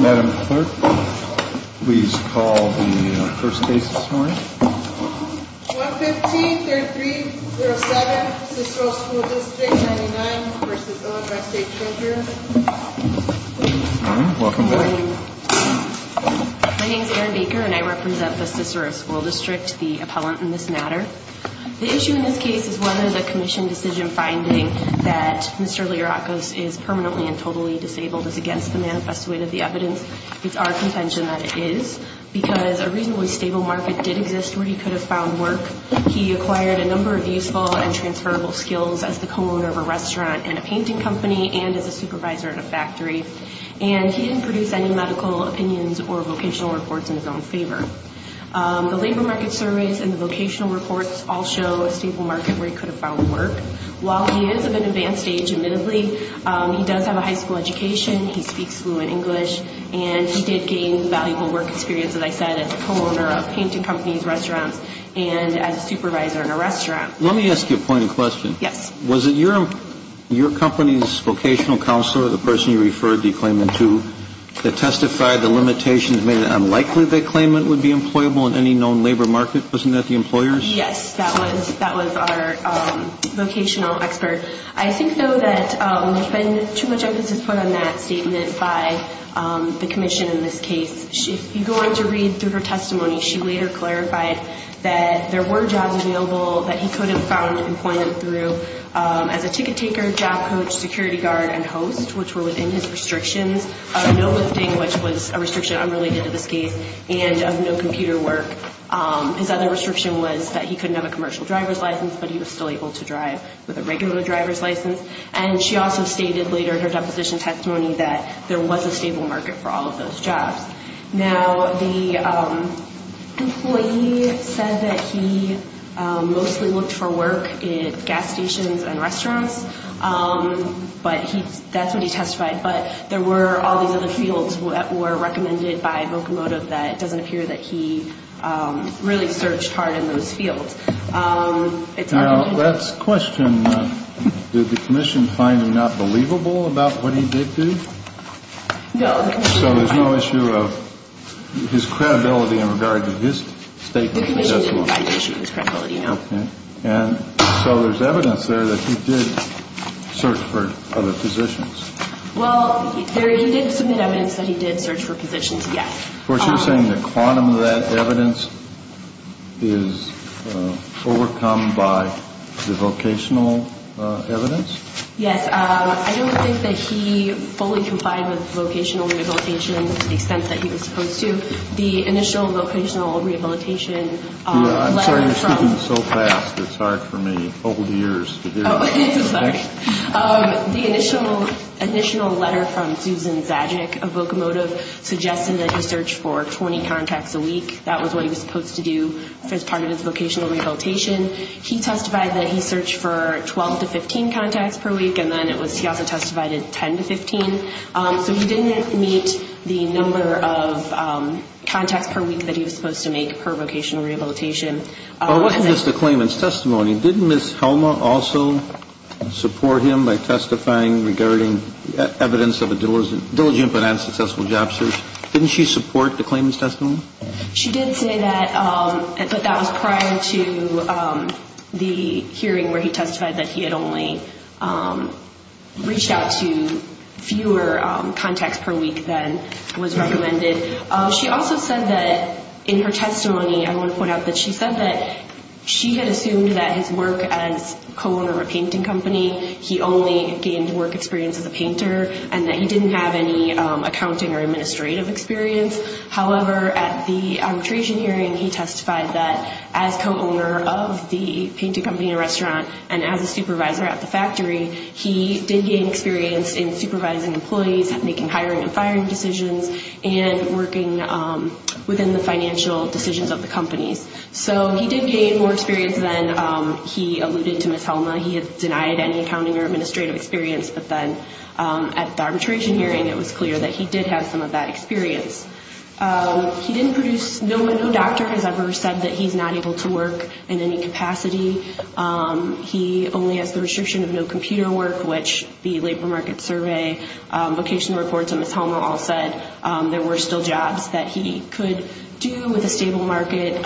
Madam Clerk, please call the first case this morning. 115-3307, Cicero School District 99 v. Illinois State Treasurer Welcome back. My name is Erin Baker and I represent the Cicero School District, the appellant in this matter. The issue in this case is whether the Commission decision finding that Mr. Lirakos is permanently and totally disabled is against the manifesto of the evidence. It's our contention that it is because a reasonably stable market did exist where he could have found work. He acquired a number of useful and transferable skills as the co-owner of a restaurant and a painting company and as a supervisor at a factory. And he didn't produce any medical opinions or vocational reports in his own favor. The labor market surveys and the vocational reports all show a stable market where he could have found work. While he is of an advanced age, admittedly, he does have a high school education, he speaks fluent English, and he did gain valuable work experience, as I said, as the co-owner of painting companies, restaurants, and as a supervisor in a restaurant. Let me ask you a point of question. Yes. Was it your company's vocational counselor, the person you referred the claimant to, that testified the limitations made it unlikely the claimant would be employable in any known labor market? Wasn't that the employer's? Yes, that was our vocational expert. I think, though, that there's been too much emphasis put on that statement by the Commission in this case. If you go on to read through her testimony, she later clarified that there were jobs available that he could have found employment through as a ticket taker, job coach, security guard, and host, which were within his restrictions of no lifting, which was a restriction unrelated to this case, and of no computer work. His other restriction was that he couldn't have a commercial driver's license, but he was still able to drive with a regular driver's license. And she also stated later in her deposition testimony that there was a stable market for all of those jobs. Now, the employee said that he mostly looked for work at gas stations and restaurants. But that's what he testified. But there were all these other fields that were recommended by Vocomotive that it doesn't appear that he really searched hard in those fields. Now, that's a question. Did the Commission find him not believable about what he did do? No. So there's no issue of his credibility in regard to his statement of testimony? The Commission didn't find an issue of his credibility, no. Okay. And so there's evidence there that he did search for other positions. Well, he did submit evidence that he did search for positions, yes. Of course, you're saying the quantum of that evidence is overcome by the vocational evidence? Yes. I don't think that he fully complied with vocational rehabilitation to the extent that he was supposed to. The initial vocational rehabilitation letter from – I'm sorry you're speaking so fast. It's hard for me, old years, to hear you. Sorry. The initial letter from Susan Zajic of Vocomotive suggested that he searched for 20 contacts a week. That was what he was supposed to do as part of his vocational rehabilitation. He testified that he searched for 12 to 15 contacts per week, and then he also testified at 10 to 15. So he didn't meet the number of contacts per week that he was supposed to make per vocational rehabilitation. What is the claimant's testimony? Didn't Ms. Helma also support him by testifying regarding evidence of a diligent but unsuccessful job search? She did say that, but that was prior to the hearing where he testified that he had only reached out to fewer contacts per week than was recommended. She also said that in her testimony, I want to point out that she said that she had assumed that his work as co-owner of a painting company, he only gained work experience as a painter, and that he didn't have any accounting or administrative experience. However, at the arbitration hearing, he testified that as co-owner of the painting company and restaurant, and as a supervisor at the factory, he did gain experience in supervising employees, making hiring and firing decisions, and working within the financial decisions of the companies. So he did gain more experience than he alluded to Ms. Helma. He had denied any accounting or administrative experience, but then at the arbitration hearing, it was clear that he did have some of that experience. He didn't produce, no doctor has ever said that he's not able to work in any capacity. He only has the restriction of no computer work, which the labor market survey, vocational reports, and Ms. Helma all said there were still jobs that he could do with a stable market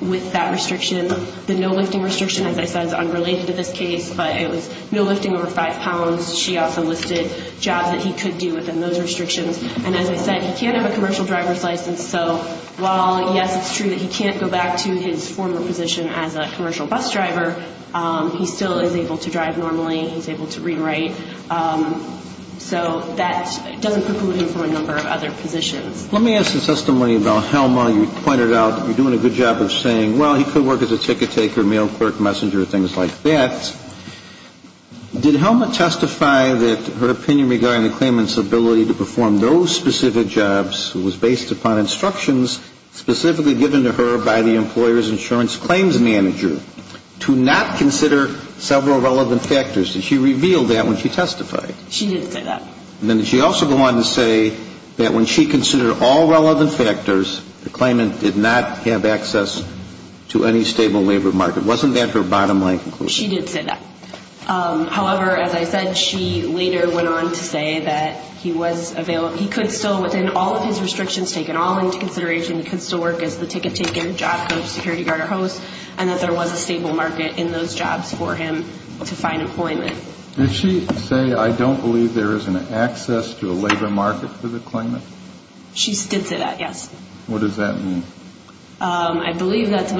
with that restriction. The no lifting restriction, as I said, is unrelated to this case, but it was no lifting over five pounds. She also listed jobs that he could do within those restrictions. And as I said, he can't have a commercial driver's license. So while, yes, it's true that he can't go back to his former position as a commercial bus driver, he still is able to drive normally. He's able to rewrite. So that doesn't preclude him from a number of other positions. Let me ask a testimony about Helma. You pointed out that you're doing a good job of saying, well, he could work as a ticket taker, mail clerk, messenger, things like that. Did Helma testify that her opinion regarding the claimant's ability to perform those specific jobs was based upon instructions specifically given to her by the employer's insurance claims manager to not consider several relevant factors? Did she reveal that when she testified? She didn't say that. And then did she also go on to say that when she considered all relevant factors, the claimant did not have access to any stable labor market? Wasn't that her bottom line conclusion? She did say that. However, as I said, she later went on to say that he could still, within all of his restrictions taken all into consideration, he could still work as the ticket taker, job coach, security guard, or host, and that there was a stable market in those jobs for him to find employment. Did she say, I don't believe there is an access to a labor market for the claimant? She did say that, yes. What does that mean? I believe that's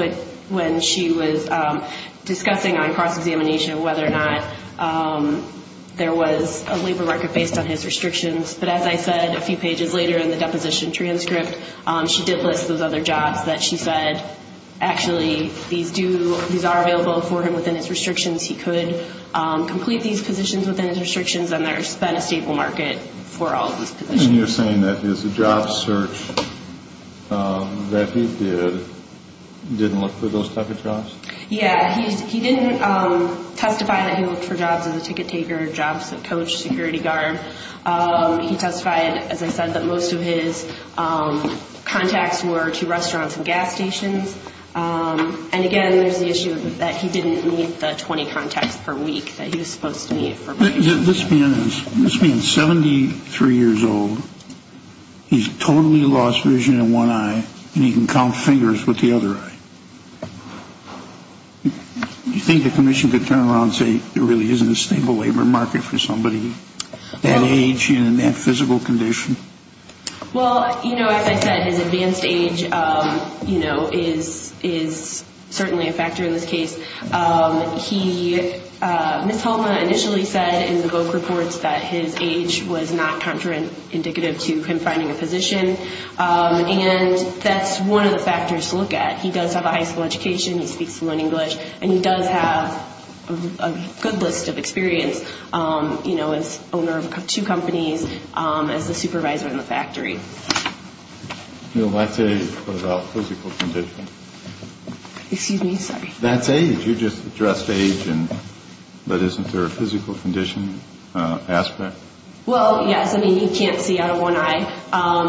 when she was discussing on cross-examination whether or not there was a labor market based on his restrictions. But as I said a few pages later in the deposition transcript, she did list those other jobs that she said, actually, these are available for him within his restrictions. He could complete these positions within his restrictions, and there's been a stable market for all of these positions. And you're saying that his job search that he did didn't look for those type of jobs? Yeah. He didn't testify that he looked for jobs as a ticket taker, job coach, security guard. He testified, as I said, that most of his contacts were to restaurants and gas stations. And again, there's the issue that he didn't meet the 20 contacts per week that he was supposed to meet. This man is 73 years old. He's totally lost vision in one eye, and he can count fingers with the other eye. Do you think the commission could turn around and say there really isn't a stable labor market for somebody that age and in that physical condition? Well, you know, as I said, his advanced age, you know, is certainly a factor in this case. He, Ms. Hultman initially said in the VOC reports that his age was not contraindicative to him finding a position. And that's one of the factors to look at. He does have a high school education. He speaks fluent English. And he does have a good list of experience, you know, as owner of two companies, as a supervisor in the factory. You know, let's say about physical condition. Excuse me? Sorry. That's age. You just addressed age, but isn't there a physical condition aspect? Well, yes. I mean, he can't see out of one eye.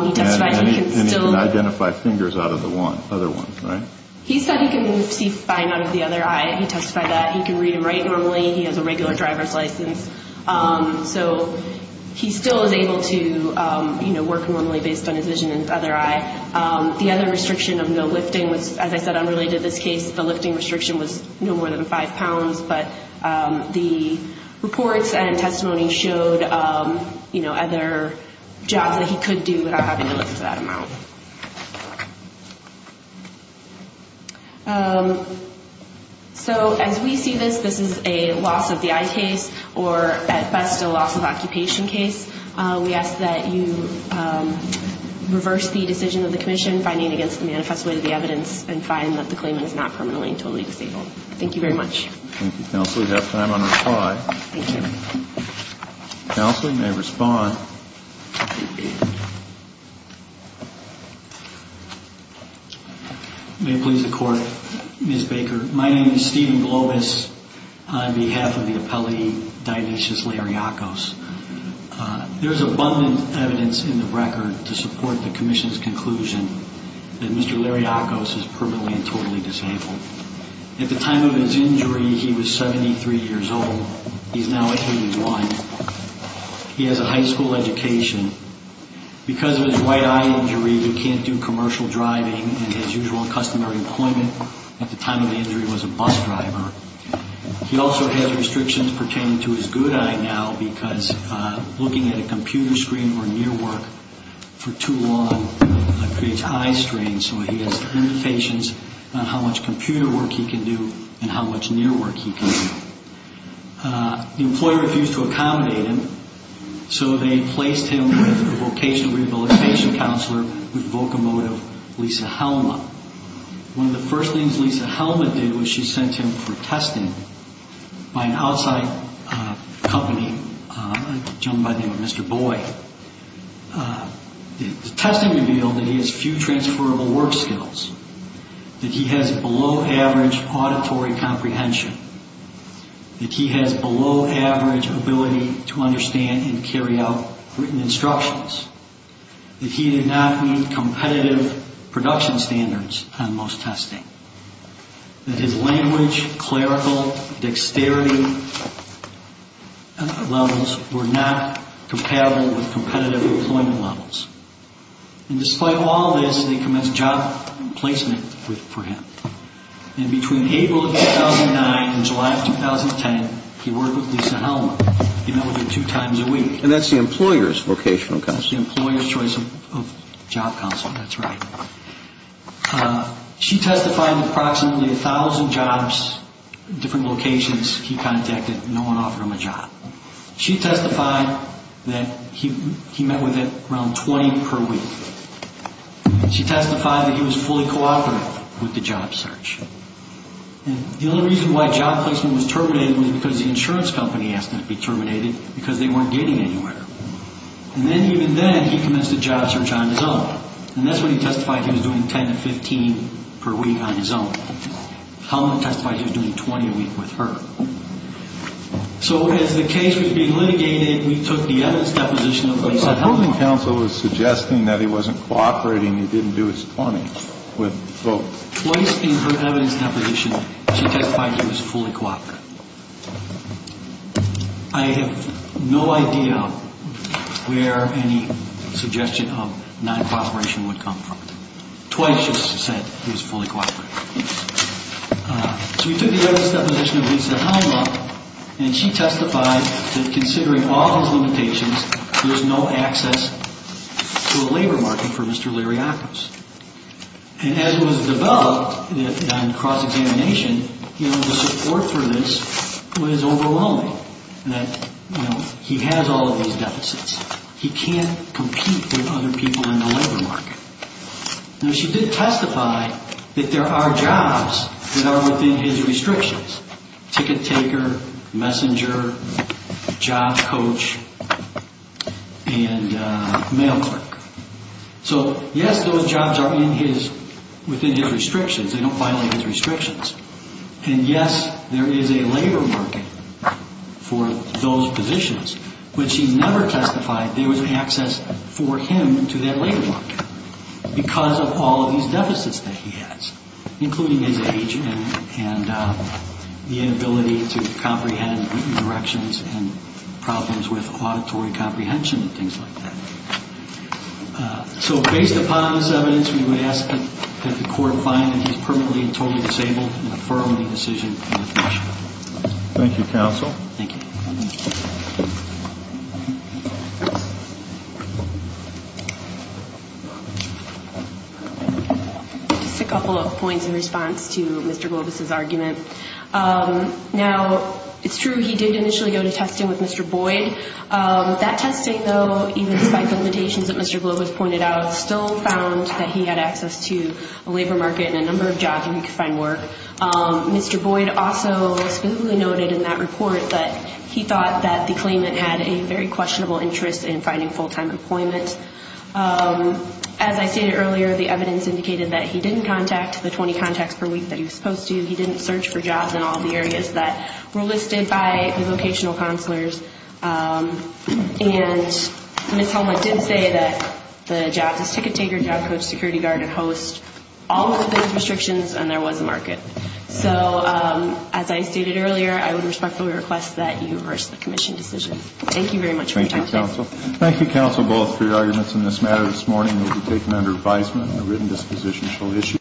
He testified he can still. He can identify fingers out of the other ones, right? He said he can see fine out of the other eye. He testified that. He can read and write normally. He has a regular driver's license. So he still is able to, you know, work normally based on his vision in the other eye. The other restriction of no lifting was, as I said, unrelated to this case. The lifting restriction was no more than five pounds. But the reports and testimony showed, you know, other jobs that he could do without having to lift that amount. So as we see this, this is a loss-of-the-eye case or, at best, a loss-of-occupation case. We ask that you reverse the decision of the commission finding against the manifest way of the evidence and find that the claimant is not permanently and totally disabled. Thank you very much. Thank you, Counsel. You have time on reply. Thank you. Counsel, you may respond. May it please the Court. Ms. Baker, my name is Stephen Globus on behalf of the appellee Dionysius Lariakos. There is abundant evidence in the record to support the commission's conclusion that Mr. Lariakos is permanently and totally disabled. At the time of his injury, he was 73 years old. He is now 81. He has a high school education. Because of his right eye injury, he can't do commercial driving and his usual customary employment at the time of the injury was a bus driver. He also has restrictions pertaining to his good eye now because looking at a computer screen or near work for too long creates eye strain. So he has limitations on how much computer work he can do and how much near work he can do. The employer refused to accommodate him, so they placed him with a vocational rehabilitation counselor with vocomotive, Lisa Helma. One of the first things Lisa Helma did was she sent him for testing by an outside company, a gentleman by the name of Mr. Boy. The testing revealed that he has few transferable work skills, that he has below average auditory comprehension, that he has below average ability to understand and carry out written instructions, that he did not meet competitive production standards on most testing, that his language, clerical, dexterity levels were not compatible with competitive employment levels. And despite all this, they commenced job placement for him. And between April of 2009 and July of 2010, he worked with Lisa Helma. He met with her two times a week. And that's the employer's vocational counselor? The employer's choice of job counselor, that's right. She testified in approximately 1,000 jobs, different locations he contacted. No one offered him a job. She testified that he met with her around 20 per week. She testified that he was fully cooperative with the job search. And the only reason why job placement was terminated was because the insurance company asked it to be terminated because they weren't getting anywhere. And then, even then, he commenced a job search on his own. And that's when he testified he was doing 10 to 15 per week on his own. Helma testified he was doing 20 a week with her. So as the case was being litigated, we took the evidence deposition of Lisa Helma. So the holding counsel was suggesting that he wasn't cooperating, he didn't do his 20 with both. Twice in her evidence deposition, she testified he was fully cooperative. I have no idea where any suggestion of non-cooperation would come from. Twice she said he was fully cooperative. So we took the evidence deposition of Lisa Helma, and she testified that considering all his limitations, there's no access to a labor market for Mr. Liriakis. And as it was developed on cross-examination, the support for this was overwhelming, that he has all of these deficits. He can't compete with other people in the labor market. Now, she did testify that there are jobs that are within his restrictions. Ticket taker, messenger, job coach, and mail clerk. So yes, those jobs are within his restrictions. They don't violate his restrictions. And yes, there is a labor market for those positions, but she never testified there was access for him to that labor market because of all of these deficits that he has, including his age and the inability to comprehend directions and problems with auditory comprehension and things like that. So based upon this evidence, we would ask that the court find that he's permanently and totally disabled and defer the decision to the commission. Thank you, counsel. Thank you. Just a couple of points in response to Mr. Gloves' argument. Now, it's true he did initially go to testing with Mr. Boyd. That testing, though, even despite the limitations that Mr. Gloves pointed out, still found that he had access to a labor market and a number of jobs where he could find work. Mr. Boyd also specifically noted in that report that he thought that the claimant had a very questionable interest in finding full-time employment. As I stated earlier, the evidence indicated that he didn't contact the 20 contacts per week that he was supposed to. He didn't search for jobs in all the areas that were listed by the vocational counselors. And Ms. Helmuth did say that the jobs as ticket taker, job coach, security guard, and host, all of those restrictions and there was a market. So as I stated earlier, I would respectfully request that you reverse the commission decision. Thank you very much for your time today. Thank you, counsel. Thank you, counsel, both for your arguments in this matter. This morning will be taken under advisement and the written disposition shall issue.